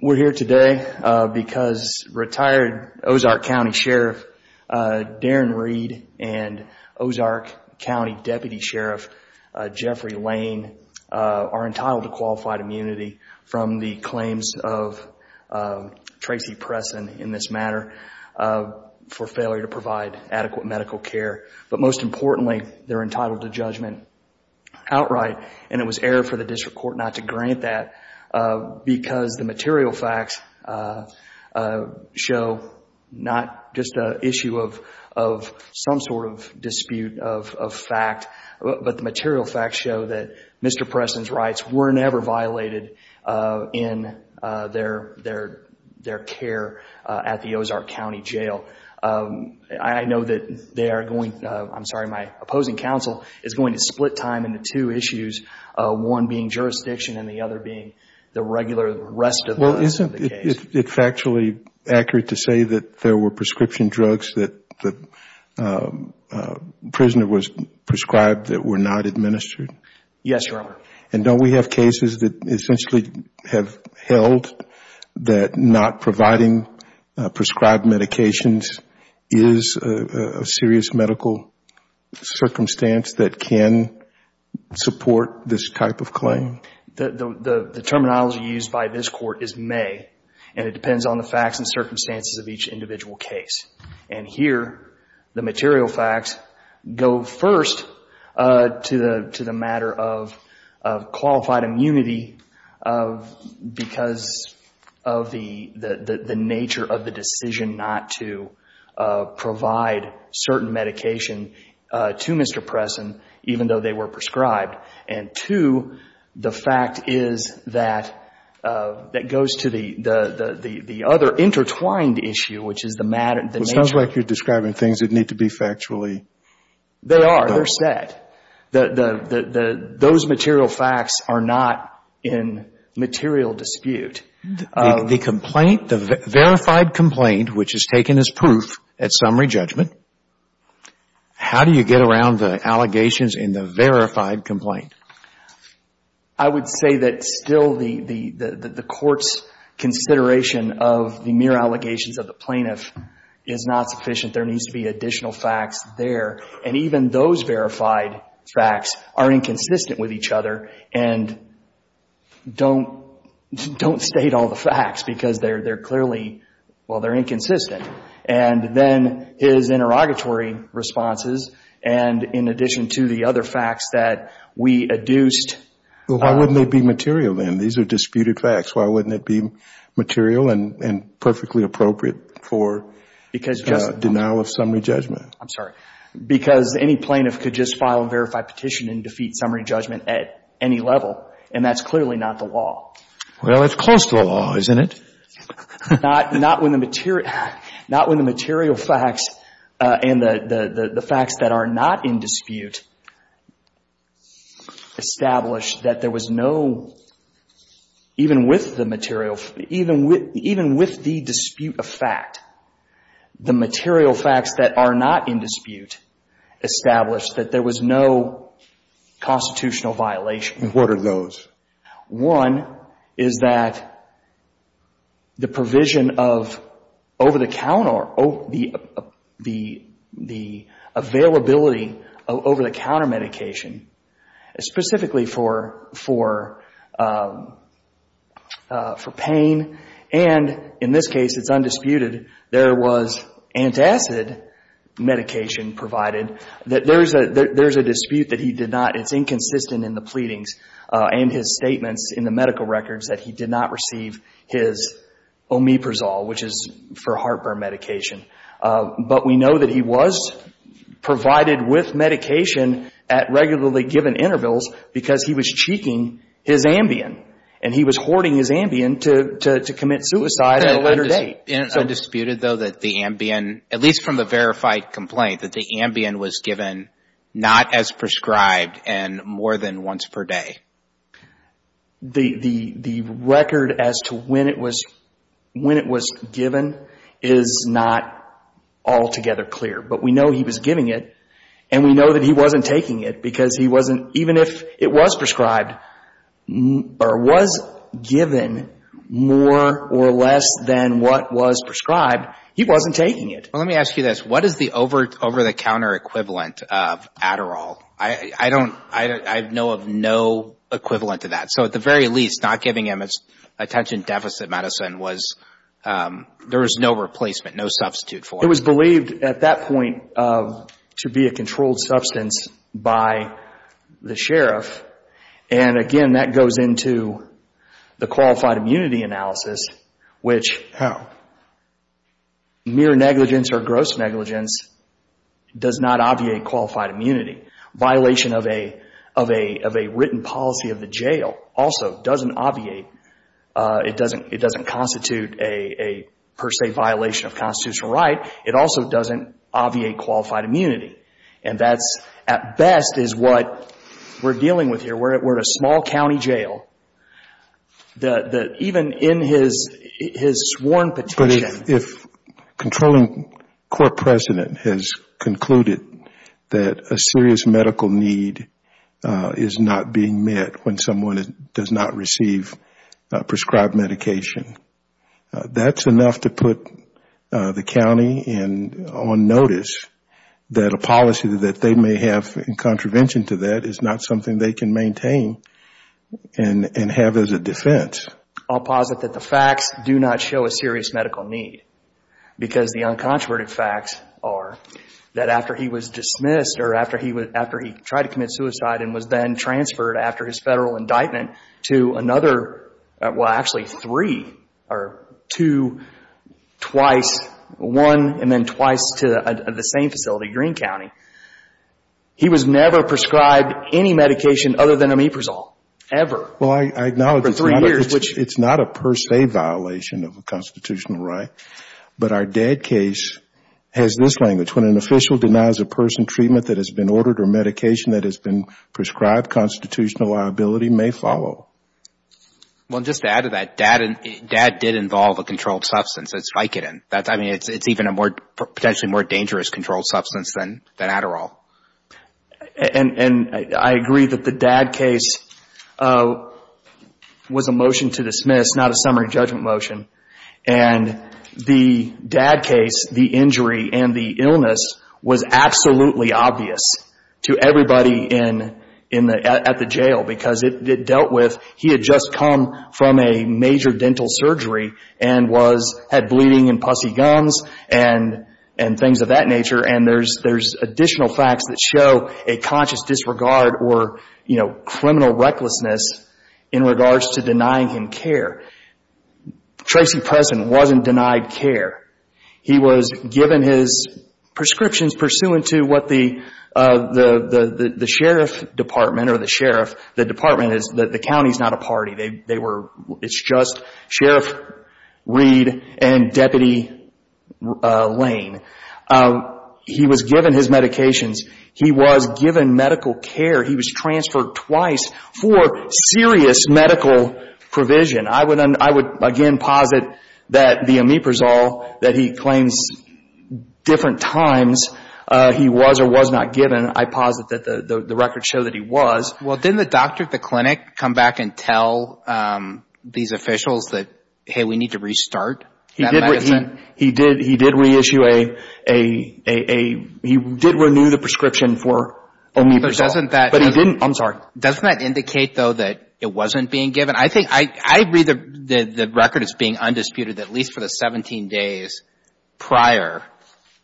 We're here today because retired Ozark County Sheriff Darrin Reed and Ozark County Deputy Sheriff Jeffrey Lane are entitled to qualified immunity from the claims of Tracy Presson in this matter for failure to provide adequate medical care. But most importantly, they're entitled to judgment outright. And it was error of the law to do that. We're here for the district court not to grant that because the material facts show not just an issue of some sort of dispute of fact, but the material facts show that Mr. Presson's rights were never violated in their care at the Ozark County Jail. I know that my opposing counsel is going to split time into two issues, one being jurisdiction and the other being the regular rest of the case. is a serious medical circumstance that can support this type of claim? The terminology used by this court is may, and it depends on the facts and circumstances of each individual case. And here, the material facts go first to the matter of qualified immunity because of the nature of the decision not to provide certain medication to Mr. Presson, even though they were prescribed. And two, the fact is that it goes to the other intertwined issue, which is the matter of the nature of the decision. It sounds like you're describing things that need to be factually dealt with. They are. They're set. Those material facts are not in material dispute. The complaint, the verified complaint, which is taken as proof at summary judgment, how do you get around the allegations in the verified complaint? I would say that still the court's consideration of the mere allegations of the plaintiff is not sufficient. There needs to be additional facts there. And even those verified facts are inconsistent with each other. And don't state all the facts because they're clearly, well, they're inconsistent. And then his interrogatory responses and in addition to the other facts that we adduced. Well, why wouldn't they be material then? These are disputed facts. Why wouldn't it be material and perfectly appropriate for denial of summary judgment? I'm sorry. Because any plaintiff could just file a verified petition and defeat summary judgment at any level. And that's clearly not the law. Well, it's close to the law, isn't it? Not when the material facts and the facts that are not in dispute establish that there was no, even with the dispute of fact, the material facts that are not in dispute establish that there was no constitutional violation. What are those? One is that the provision of over-the-counter, the availability of over-the-counter medication specifically for pain. And in this case, it's undisputed, there was antacid medication provided. There's a dispute that he did not, it's inconsistent in the pleadings and his statements in the medical records, that he did not receive his Omeprazole, which is for heartburn medication. But we know that he was provided with medication at regularly given intervals because he was cheeking his Ambien. And he was hoarding his Ambien to commit suicide at a later date. It's undisputed, though, that the Ambien, at least from the verified complaint, that the Ambien was given not as prescribed and more than once per day. The record as to when it was given is not altogether clear. But we know he was giving it. And we know that he wasn't taking it because he wasn't, even if it was prescribed, or was given more or less than what was prescribed, he wasn't taking it. Well, let me ask you this. What is the over-the-counter equivalent of Adderall? I don't, I know of no equivalent to that. So at the very least, not giving him attention deficit medicine was, there was no replacement, no substitute for it. It was believed at that point to be a controlled substance by the sheriff. And again, that goes into the qualified immunity analysis, which mere negligence or gross negligence does not obviate qualified immunity. Violation of a written policy of the jail also doesn't obviate, it doesn't constitute a per se violation of constitutional right. It also doesn't obviate qualified immunity. And that's, at best, is what we're dealing with here. We're at a small county jail that even in his sworn petition. But if controlling court precedent has concluded that a serious medical need is not being met when someone does not receive prescribed medication, that's enough to put the county on notice that a policy that they may have in contravention to that is not something they can maintain and have as a defense. I'll posit that the facts do not show a serious medical need, because the uncontroverted facts are that after he was dismissed or after he tried to commit suicide and was then transferred after his federal indictment to another, well actually three, or two, twice, one and then twice to the same facility, Greene County, he was never prescribed any medication other than Omeprazole, ever. Well, I acknowledge it's not a per se violation of a constitutional right, but our DAD case has this language. When an official denies a person treatment that has been ordered or medication that has been prescribed, constitutional liability may follow. Well, just to add to that, DAD did involve a controlled substance. It's Vicodin. I mean, it's even a potentially more dangerous controlled substance than Adderall. And I agree that the DAD case was a motion to dismiss, not a summary judgment motion. And the DAD case, the injury, and the illness was absolutely obvious to everybody at the jail, because it dealt with he had just come from a major dental surgery and had bleeding and pussy gums and things of that nature, and there's additional facts that show a conscious disregard or criminal recklessness in regards to denying him care. Tracy Preston wasn't denied care. He was given his prescriptions pursuant to what the sheriff department or the sheriff, the department is, the county is not a party. They were, it's just Sheriff Reed and Deputy Lane. He was given his medications. He was given medical care. He was transferred twice for serious medical provision. I would, again, posit that the Omeprazole that he claims different times he was or was not given, I posit that the records show that he was. Well, didn't the doctor at the clinic come back and tell these officials that, hey, we need to restart that medicine? He did reissue a, he did renew the prescription for Omeprazole. But doesn't that. I'm sorry. Doesn't that indicate, though, that it wasn't being given? I think, I agree that the record is being undisputed that at least for the 17 days prior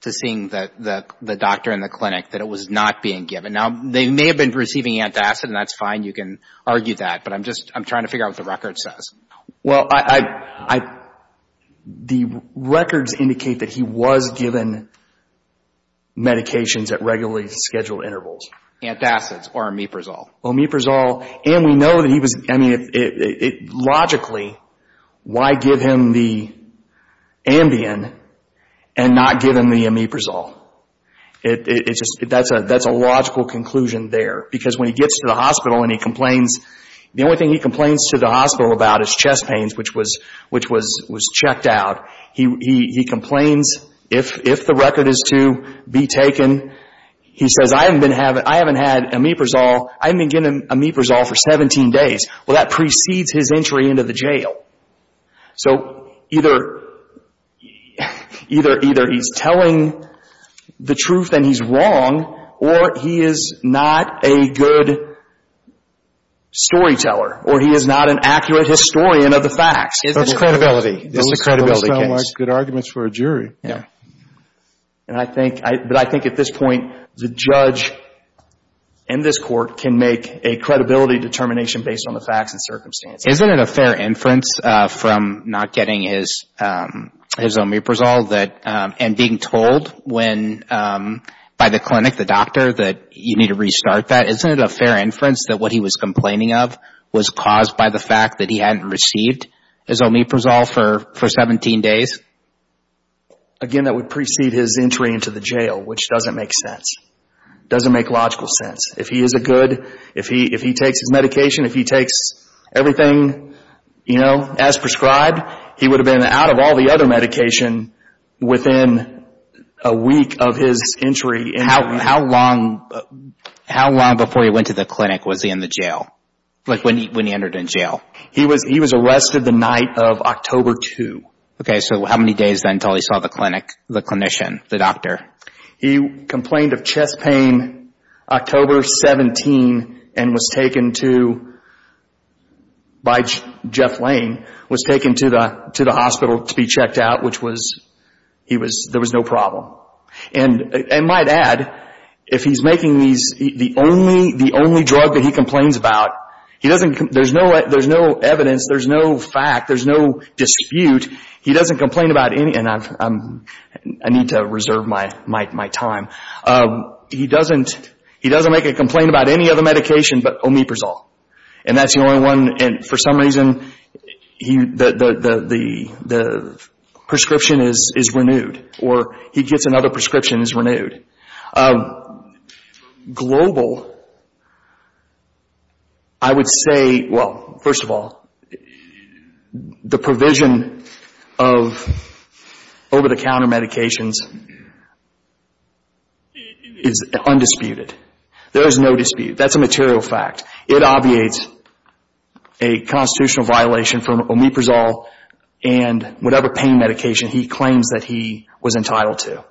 to seeing the doctor in the clinic that it was not being given. Now, they may have been receiving antacid, and that's fine. You can argue that. But I'm just, I'm trying to figure out what the record says. Well, I, the records indicate that he was given medications at regularly scheduled intervals. Antacids or Omeprazole. Omeprazole. And we know that he was, I mean, logically, why give him the Ambien and not give him the Omeprazole? It's just, that's a logical conclusion there. Because when he gets to the hospital and he complains, the only thing he complains to the hospital about is chest pains, which was checked out. He complains, if the record is to be taken, he says, I haven't had Omeprazole. I haven't been giving him Omeprazole for 17 days. Well, that precedes his entry into the jail. So either he's telling the truth and he's wrong, or he is not a good storyteller, or he is not an accurate historian of the facts. It's credibility. It's a credibility case. Good arguments for a jury. But I think at this point, the judge in this court can make a credibility determination based on the facts and circumstances. Isn't it a fair inference from not getting his Omeprazole and being told by the clinic, the doctor, that you need to restart that? Isn't it a fair inference that what he was complaining of was caused by the fact that he hadn't received his Omeprazole for 17 days? Again, that would precede his entry into the jail, which doesn't make sense. It doesn't make logical sense. If he is a good, if he takes his medication, if he takes everything, you know, as prescribed, he would have been out of all the other medication within a week of his entry. How long before he went to the clinic was he in the jail, like when he entered in jail? He was arrested the night of October 2. Okay, so how many days then until he saw the clinic, the clinician, the doctor? He complained of chest pain October 17 and was taken to, by Jeff Lane, was taken to the hospital to be checked out, which was, he was, there was no problem. And I might add, if he's making these, the only drug that he complains about, he doesn't, there's no evidence, there's no fact, there's no dispute, he doesn't complain about any, and I need to reserve my time, he doesn't make a complaint about any other medication but Omeprazole. And that's the only one, and for some reason, the prescription is renewed, or he gets another prescription, it's renewed. Global, I would say, well, first of all, the provision of over-the-counter medications is undisputed. There is no dispute, that's a material fact. It obviates a constitutional violation from Omeprazole and whatever pain medication he claims that he was entitled to.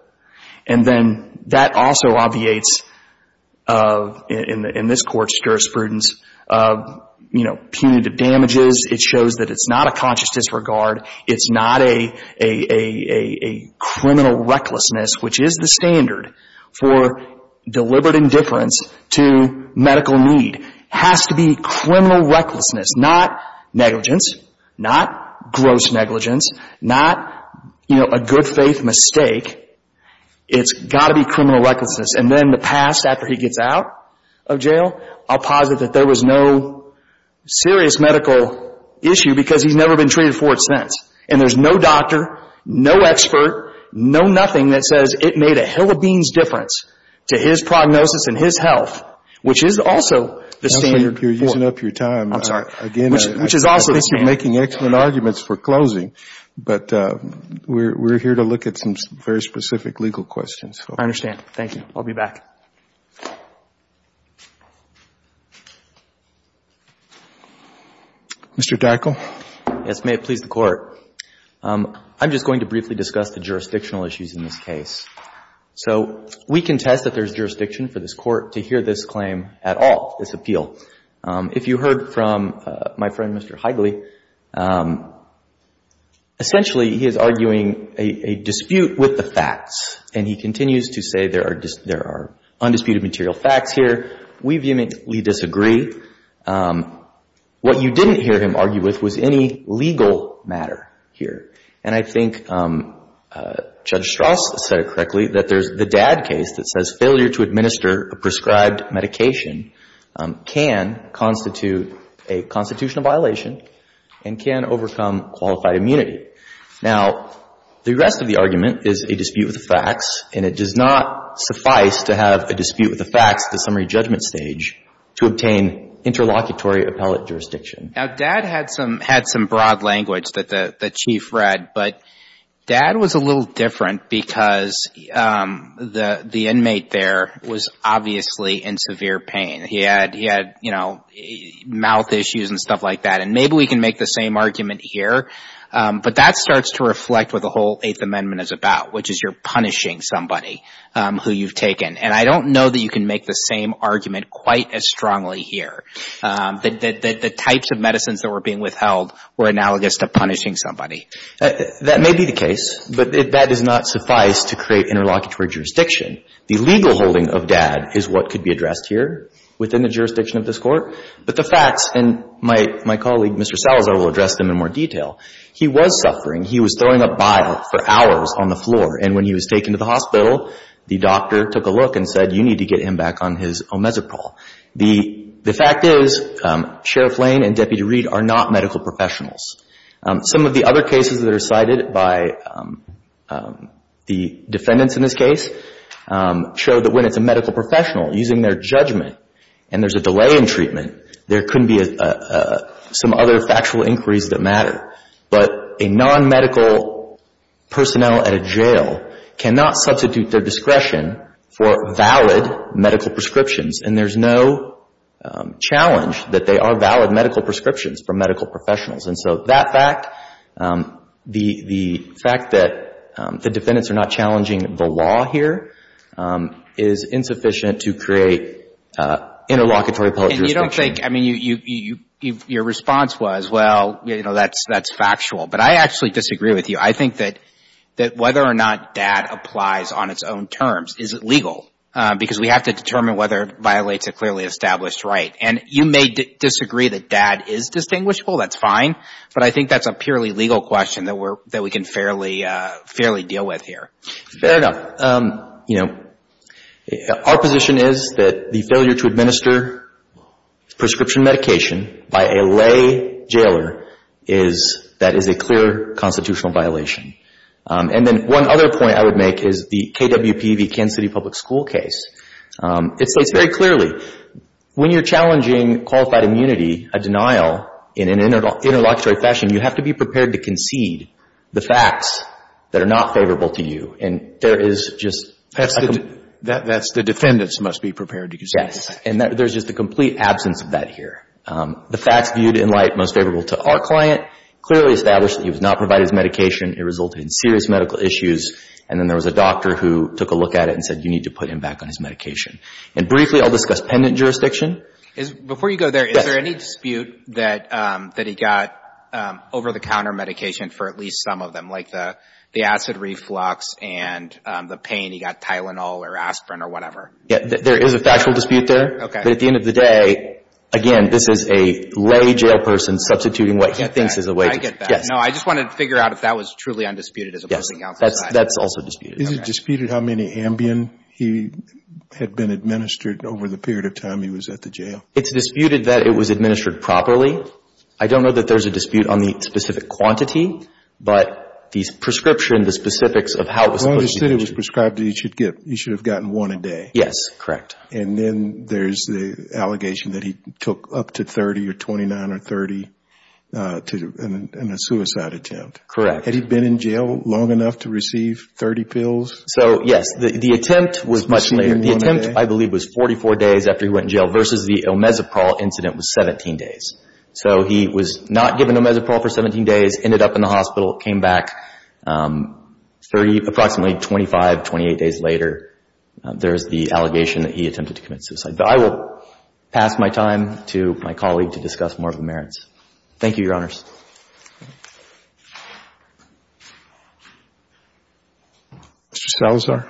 And then that also obviates, in this Court's jurisprudence, punitive damages. It shows that it's not a conscious disregard, it's not a criminal recklessness, which is the standard for deliberate indifference to medical need. It has to be criminal recklessness, not negligence, not gross negligence, not a good faith mistake. It's got to be criminal recklessness. And then in the past, after he gets out of jail, I'll posit that there was no serious medical issue because he's never been treated for it since. And there's no doctor, no expert, no nothing that says it made a hill of beans difference to his prognosis and his health, which is also the standard. You're using up your time. I'm sorry. Again, I think you're making excellent arguments for closing. But we're here to look at some very specific legal questions. I understand. Thank you. I'll be back. Mr. Dackel? Yes. May it please the Court. I'm just going to briefly discuss the jurisdictional issues in this case. So we contest that there's jurisdiction for this Court to hear this claim at all, this appeal. If you heard from my friend, Mr. Heigley, essentially he is arguing a dispute with the facts. And he continues to say there are undisputed material facts here. We vehemently disagree. What you didn't hear him argue with was any legal matter here. And I think Judge Strauss said it correctly, that there's the dad case that says failure to administer a prescribed medication can constitute a constitutional violation and can overcome qualified immunity. Now, the rest of the argument is a dispute with the facts, and it does not suffice to have a dispute with the facts at the summary judgment stage to obtain interlocutory appellate jurisdiction. Now, dad had some broad language that the Chief read. But dad was a little different because the inmate there was obviously in severe pain. He had, you know, mouth issues and stuff like that. And maybe we can make the same argument here. But that starts to reflect what the whole Eighth Amendment is about, which is you're punishing somebody who you've taken. And I don't know that you can make the same argument quite as strongly here, that the types of medicines that were being withheld were analogous to punishing somebody. That may be the case, but that does not suffice to create interlocutory jurisdiction. The legal holding of dad is what could be addressed here within the jurisdiction of this Court. But the facts, and my colleague, Mr. Salazar, will address them in more detail. He was suffering. He was throwing up bile for hours on the floor. And when he was taken to the hospital, the doctor took a look and said, you need to get him back on his Omezeprol. The fact is Sheriff Lane and Deputy Reed are not medical professionals. Some of the other cases that are cited by the defendants in this case show that when it's a medical professional using their judgment and there's a delay in treatment, there could be some other factual inquiries that matter. But a nonmedical personnel at a jail cannot substitute their discretion for valid medical prescriptions. And there's no challenge that they are valid medical prescriptions for medical professionals. And so that fact, the fact that the defendants are not challenging the law here, is insufficient to create interlocutory public jurisdiction. And you don't think, I mean, your response was, well, you know, that's factual. But I actually disagree with you. I think that whether or not dad applies on its own terms isn't legal, because we have to determine whether it violates a clearly established right. And you may disagree that dad is distinguishable. That's fine. But I think that's a purely legal question that we can fairly deal with here. Fair enough. You know, our position is that the failure to administer prescription medication by a lay jailer is, that is a clear constitutional violation. And then one other point I would make is the KWP v. Kansas City Public School case. It states very clearly, when you're challenging qualified immunity, a denial in an interlocutory fashion, you have to be prepared to concede the facts that are not favorable to you. And there is just... That's the defendants must be prepared to concede. Yes. And there's just a complete absence of that here. The facts viewed in light most favorable to our client clearly establish that he was not provided his medication. It resulted in serious medical issues. And then there was a doctor who took a look at it and said, you need to put him back on his medication. And briefly, I'll discuss pendant jurisdiction. Before you go there, is there any dispute that he got over-the-counter medication for at least some of them, like the acid reflux and the pain he got Tylenol or aspirin or whatever? There is a factual dispute there. Okay. But at the end of the day, again, this is a lay jail person substituting what he thinks is a way to... I get that. No, I just wanted to figure out if that was truly undisputed as opposed to... Yes, that's also disputed. Is it disputed how many Ambien he had been administered over the period of time he was at the jail? It's disputed that it was administered properly. I don't know that there's a dispute on the specific quantity, but the prescription, the specifics of how it was... As long as it was prescribed, he should have gotten one a day. Yes, correct. And then there's the allegation that he took up to 30 or 29 or 30 in a suicide attempt. Correct. Had he been in jail long enough to receive 30 pills? So, yes, the attempt was much later. The attempt, I believe, was 44 days after he went in jail versus the Omezeprol incident was 17 days. So he was not given Omezeprol for 17 days, ended up in the hospital, came back approximately 25, 28 days later. There is the allegation that he attempted to commit suicide. But I will pass my time to my colleague to discuss more of the merits. Thank you, Your Honors. Mr. Salazar.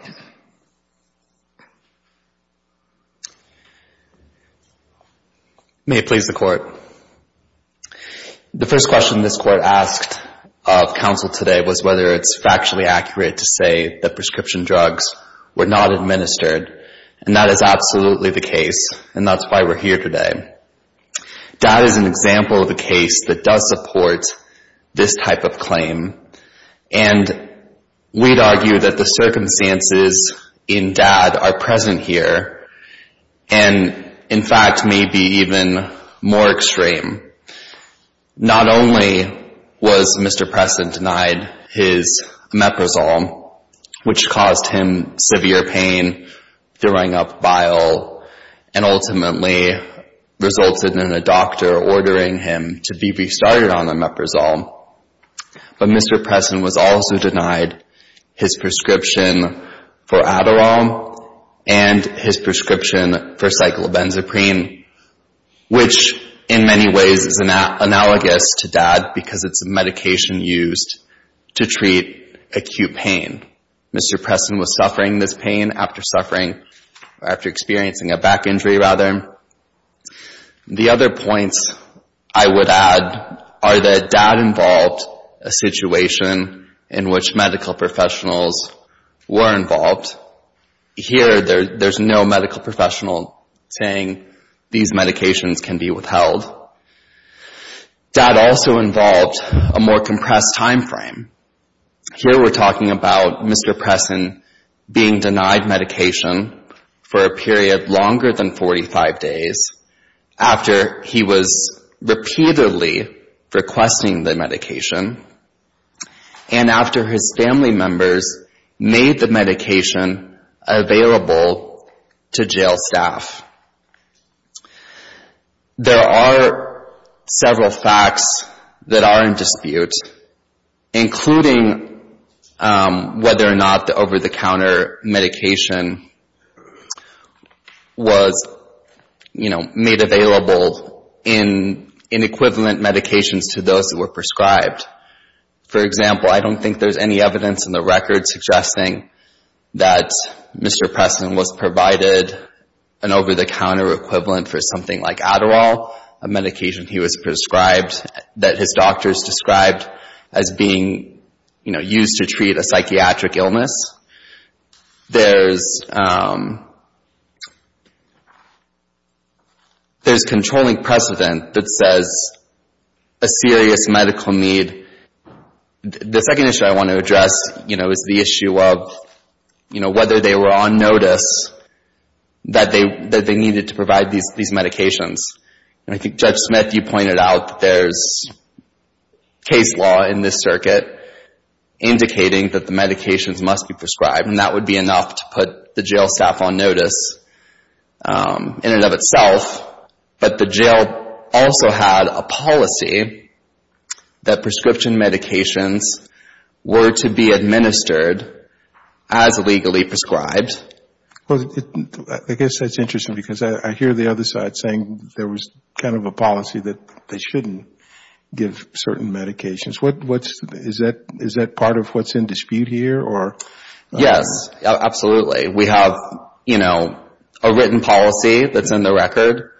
May it please the Court. The first question this Court asked of counsel today was whether it's factually accurate to say that prescription drugs were not administered. And that is absolutely the case, and that's why we're here today. That is an example of a case that does support this type of claim. And we'd argue that the circumstances in Dad are present here and, in fact, may be even more extreme. Not only was Mr. Pressen denied his Omeprazole, which caused him severe pain, throwing up bile, and ultimately resulted in a doctor ordering him to be restarted on Omeprazole, but Mr. Pressen was also denied his prescription for Adderall and his prescription for cyclobenzaprine, which in many ways is analogous to Dad because it's a medication used to treat acute pain. Mr. Pressen was suffering this pain after experiencing a back injury. The other points I would add are that Dad involved a situation in which medical professionals were involved. Here there's no medical professional saying these medications can be withheld. Dad also involved a more compressed timeframe. Here we're talking about Mr. Pressen being denied medication for a period longer than 45 days, after he was repeatedly requesting the medication, and after his family members made the medication available to jail staff. There are several facts that are in dispute, including whether or not the over-the-counter medication was made available in equivalent medications to those that were prescribed. For example, I don't think there's any evidence in the record suggesting that Mr. Pressen was provided an over-the-counter equivalent for something like Adderall, a medication he was prescribed, that his doctors described as being used to treat a psychiatric illness. There's controlling precedent that says a serious medical need. The second issue I want to address is the issue of whether they were on notice that they needed to provide these medications. And I think Judge Smith, you pointed out that there's case law in this circuit indicating that the medications must be prescribed, and that would be enough to put the jail staff on notice in and of itself. But the jail also had a policy that prescription medications were to be administered as legally prescribed. I guess that's interesting because I hear the other side saying there was kind of a policy that they shouldn't give certain medications. Is that part of what's in dispute here? Yes, absolutely. We have, you know, a written policy that's in the record,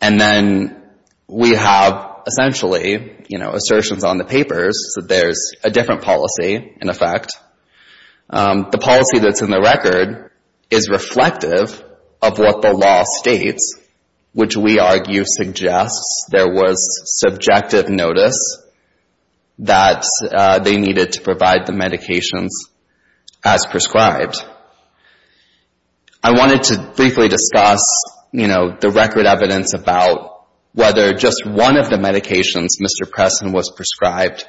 and then we have essentially, you know, assertions on the papers that there's a different policy in effect. The policy that's in the record is reflective of what the law states, which we argue suggests there was subjective notice that they needed to provide the medications as prescribed. I wanted to briefly discuss, you know, the record evidence about whether just one of the medications Mr. Preston was prescribed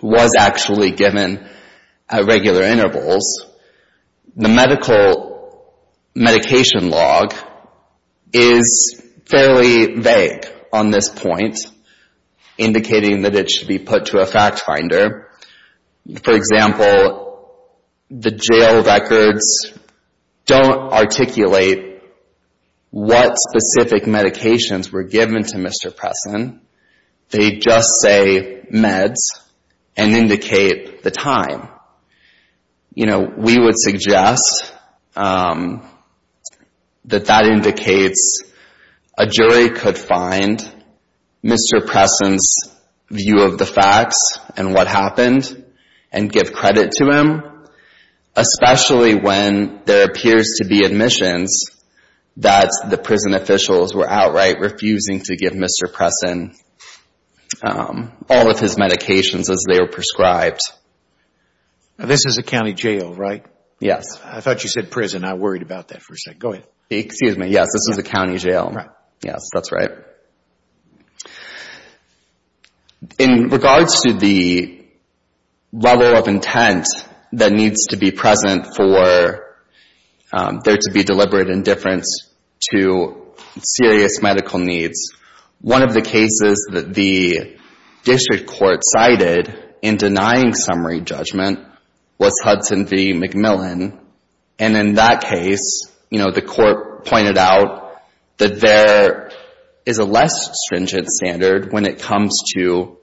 was actually given at regular intervals. The medical medication log is fairly vague on this point, indicating that it should be put to a fact finder. For example, the jail records don't articulate what specific medications were given to Mr. Preston. They just say meds and indicate the time. You know, we would suggest that that indicates a jury could find Mr. Preston's view of the facts and what happened and give credit to him, especially when there appears to be admissions that the prison officials were outright refusing to give Mr. Preston all of his medications as they were prescribed. This is a county jail, right? Yes. I thought you said prison. I worried about that for a second. Go ahead. Excuse me. Yes, this is a county jail. Right. Yes, that's right. In regards to the level of intent that needs to be present for there to be deliberate indifference to serious medical needs, one of the cases that the district court cited in denying summary judgment was Hudson v. McMillan, and in that case, you know, the court pointed out that there is a less stringent standard when it comes to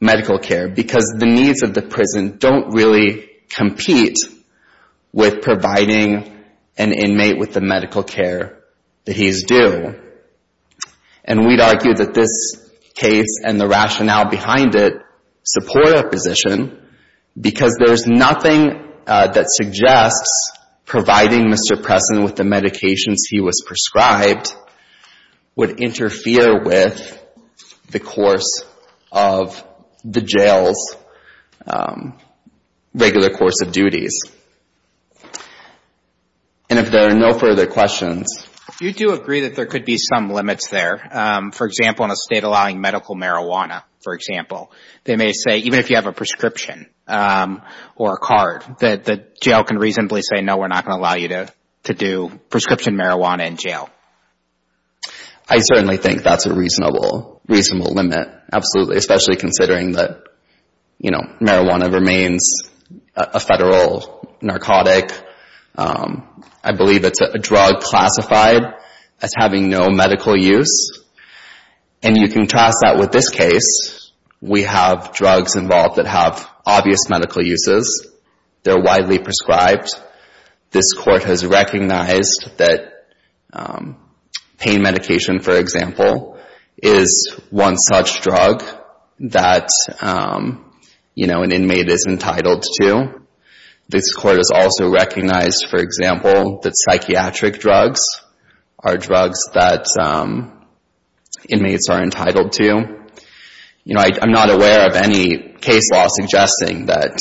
medical care because the needs of the prison don't really compete with providing an inmate with the medical care that he's due. And we'd argue that this case and the rationale behind it support a position because there's nothing that suggests providing Mr. Preston with the medications he was prescribed would interfere with the course of the jail's regular course of duties. And if there are no further questions. You do agree that there could be some limits there. For example, in a state allowing medical marijuana, for example, they may say even if you have a prescription or a card, the jail can reasonably say, no, we're not going to allow you to do prescription marijuana in jail. I certainly think that's a reasonable limit, absolutely, especially considering that marijuana remains a federal narcotic. I believe it's a drug classified as having no medical use, and you contrast that with this case. We have drugs involved that have obvious medical uses. They're widely prescribed. This court has recognized that pain medication, for example, is one such drug that, you know, an inmate is entitled to. This court has also recognized, for example, that psychiatric drugs are drugs that inmates are entitled to. You know, I'm not aware of any case law suggesting that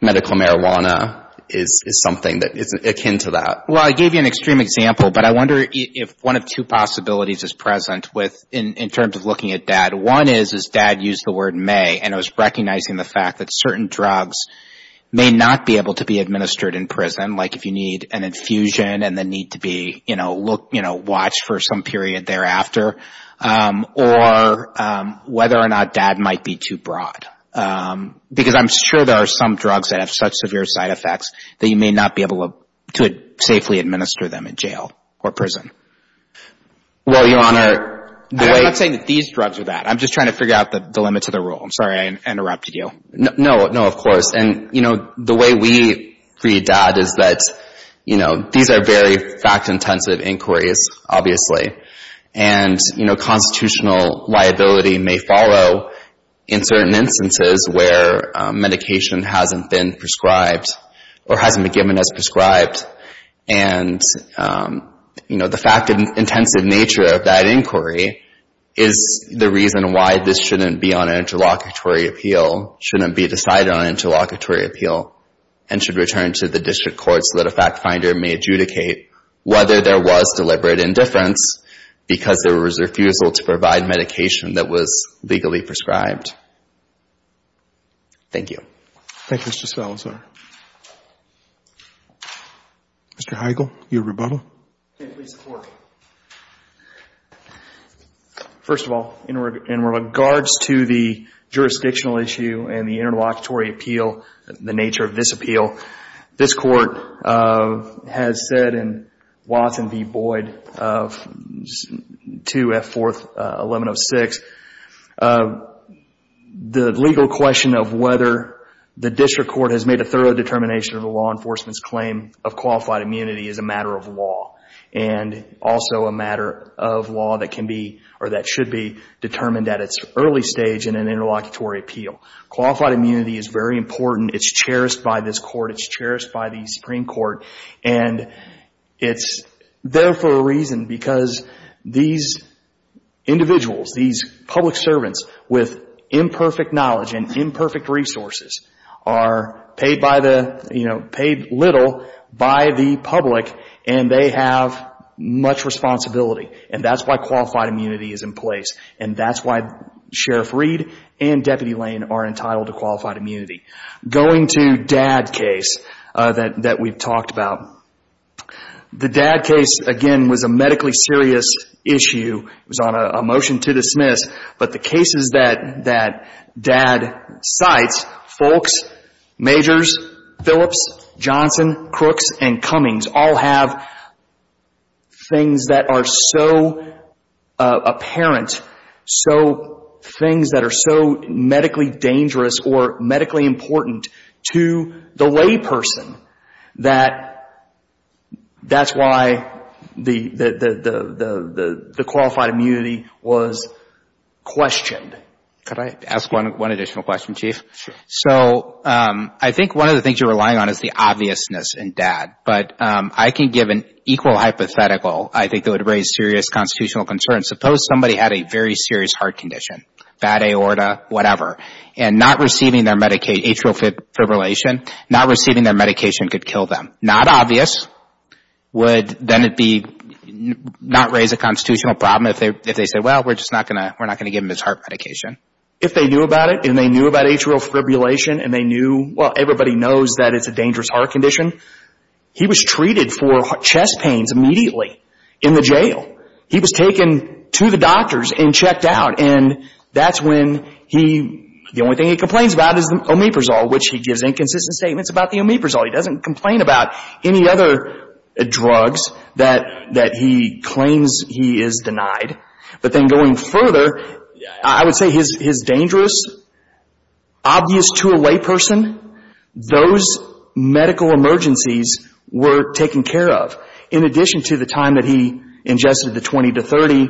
medical marijuana is something that is akin to that. Well, I gave you an extreme example, but I wonder if one of two possibilities is present in terms of looking at Dad. One is, is Dad used the word may, and it was recognizing the fact that certain drugs may not be able to be administered in prison. Like, if you need an infusion and then need to be, you know, watch for some period thereafter. Or whether or not Dad might be too broad. Because I'm sure there are some drugs that have such severe side effects that you may not be able to safely administer them in jail or prison. Well, Your Honor, the way— I'm not saying that these drugs are bad. I'm just trying to figure out the limits of the rule. I'm sorry I interrupted you. No, no, of course. And, you know, the way we read Dad is that, you know, these are very fact-intensive inquiries, obviously. And, you know, constitutional liability may follow in certain instances where medication hasn't been prescribed or hasn't been given as prescribed. And, you know, the fact-intensive nature of that inquiry is the reason why this shouldn't be on an interlocutory appeal, shouldn't be decided on an interlocutory appeal, and should return to the district court so that a fact-finder may adjudicate whether there was deliberate indifference because there was refusal to provide medication that was legally prescribed. Thank you. Thank you, Mr. Salazar. Mr. Heigl, your rebuttal. Can you please report? First of all, in regards to the jurisdictional issue and the interlocutory appeal, the nature of this appeal, this court has said in Watson v. Boyd of 2F4-1106, the legal question of whether the district court has made a thorough determination of a law enforcement's claim of qualified immunity is a matter of law. And also a matter of law that can be or that should be determined at its early stage in an interlocutory appeal. Qualified immunity is very important. It's cherished by this court. It's cherished by the Supreme Court. And it's there for a reason because these individuals, these public servants with imperfect knowledge and imperfect resources are paid little by the public and they have much responsibility. And that's why qualified immunity is in place. And that's why Sheriff Reed and Deputy Lane are entitled to qualified immunity. Going to Dad case that we've talked about. The Dad case, again, was a medically serious issue. It was on a motion to dismiss. But the cases that Dad cites, Foulkes, Majors, Phillips, Johnson, Crooks, and Cummings all have things that are so apparent, things that are so medically dangerous or medically important to the lay person that that's why the qualified immunity was questioned. Could I ask one additional question, Chief? Sure. So I think one of the things you're relying on is the obviousness in Dad. But I can give an equal hypothetical, I think, that would raise serious constitutional concerns. Suppose somebody had a very serious heart condition, bad aorta, whatever, and not receiving their medication, atrial fibrillation, not receiving their medication could kill them. Not obvious would then it be not raise a constitutional problem if they say, well, we're just not going to give him his heart medication. If they knew about it and they knew about atrial fibrillation and they knew, well, everybody knows that it's a dangerous heart condition, he was treated for chest pains immediately in the jail. He was taken to the doctors and checked out. And that's when the only thing he complains about is omeprazole, which he gives inconsistent statements about the omeprazole. He doesn't complain about any other drugs that he claims he is denied. But then going further, I would say his dangerous, obvious to a layperson, those medical emergencies were taken care of. In addition to the time that he ingested the 20 to 30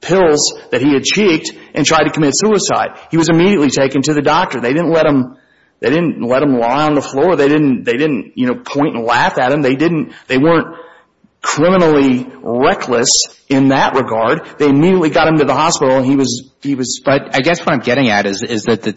pills that he had checked and tried to commit suicide, he was immediately taken to the doctor. They didn't let him lie on the floor. They didn't point and laugh at him. They weren't criminally reckless in that regard. They immediately got him to the hospital. But I guess what I'm getting at is that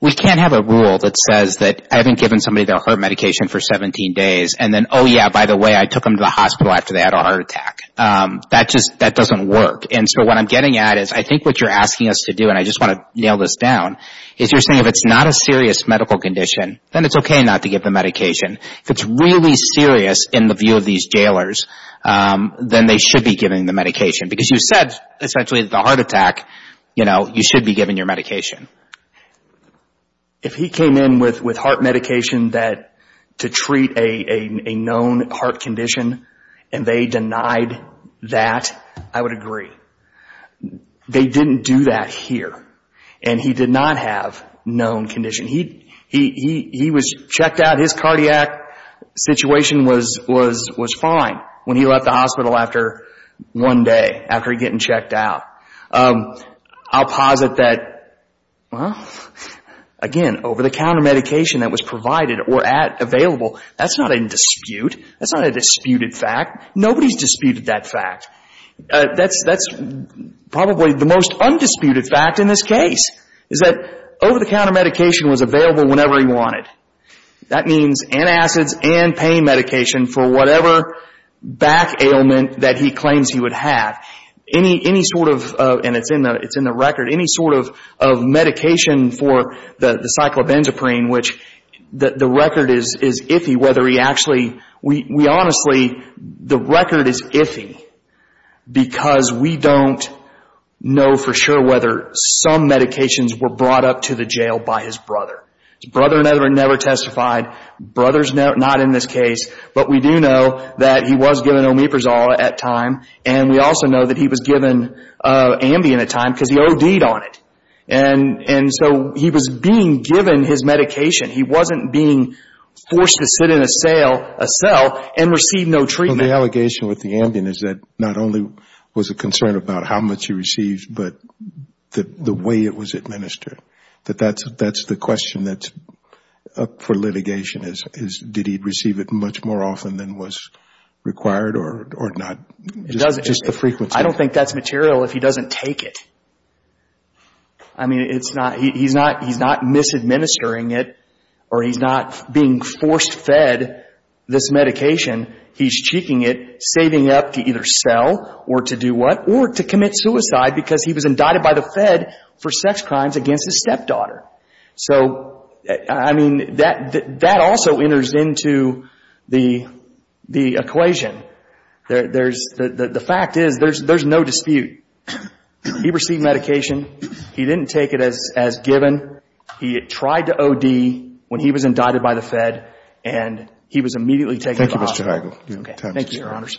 we can't have a rule that says that I haven't given somebody their heart medication for 17 days and then, oh, yeah, by the way, I took them to the hospital after they had a heart attack. That doesn't work. And so what I'm getting at is I think what you're asking us to do, and I just want to nail this down, is you're saying if it's not a serious medical condition, then it's okay not to give the medication. If it's really serious in the view of these jailers, then they should be giving the medication. Because you said, essentially, the heart attack, you know, you should be giving your medication. If he came in with heart medication to treat a known heart condition and they denied that, I would agree. They didn't do that here. And he did not have known condition. He was checked out. His cardiac situation was fine when he left the hospital after one day, after getting checked out. I'll posit that, well, again, over-the-counter medication that was provided or available, that's not in dispute. That's not a disputed fact. Nobody's disputed that fact. That's probably the most undisputed fact in this case, is that over-the-counter medication was available whenever he wanted. That means antacids and pain medication for whatever back ailment that he claims he would have. Any sort of, and it's in the record, any sort of medication for the cyclobenzaprine, which the record is iffy whether he actually, we honestly, the record is iffy because we don't know for sure whether some medications were brought up to the jail by his brother. His brother never testified. Brother's not in this case. But we do know that he was given Omeprazole at time, and we also know that he was given Ambien at time because he OD'd on it. And so he was being given his medication. He wasn't being forced to sit in a cell and receive no treatment. Well, the allegation with the Ambien is that not only was it concerned about how much he received, but the way it was administered, that that's the question that's up for litigation is did he receive it much more often than was required or not, just the frequency. I don't think that's material if he doesn't take it. I mean, it's not, he's not misadministering it or he's not being forced-fed this medication. He's cheeking it, saving up to either sell or to do what? Or to commit suicide because he was indicted by the Fed for sex crimes against his stepdaughter. So, I mean, that also enters into the equation. The fact is there's no dispute. He received medication. He didn't take it as given. He had tried to OD when he was indicted by the Fed, and he was immediately taken to the hospital. Thank you, Mr. Heigl. Thank you, Your Honors.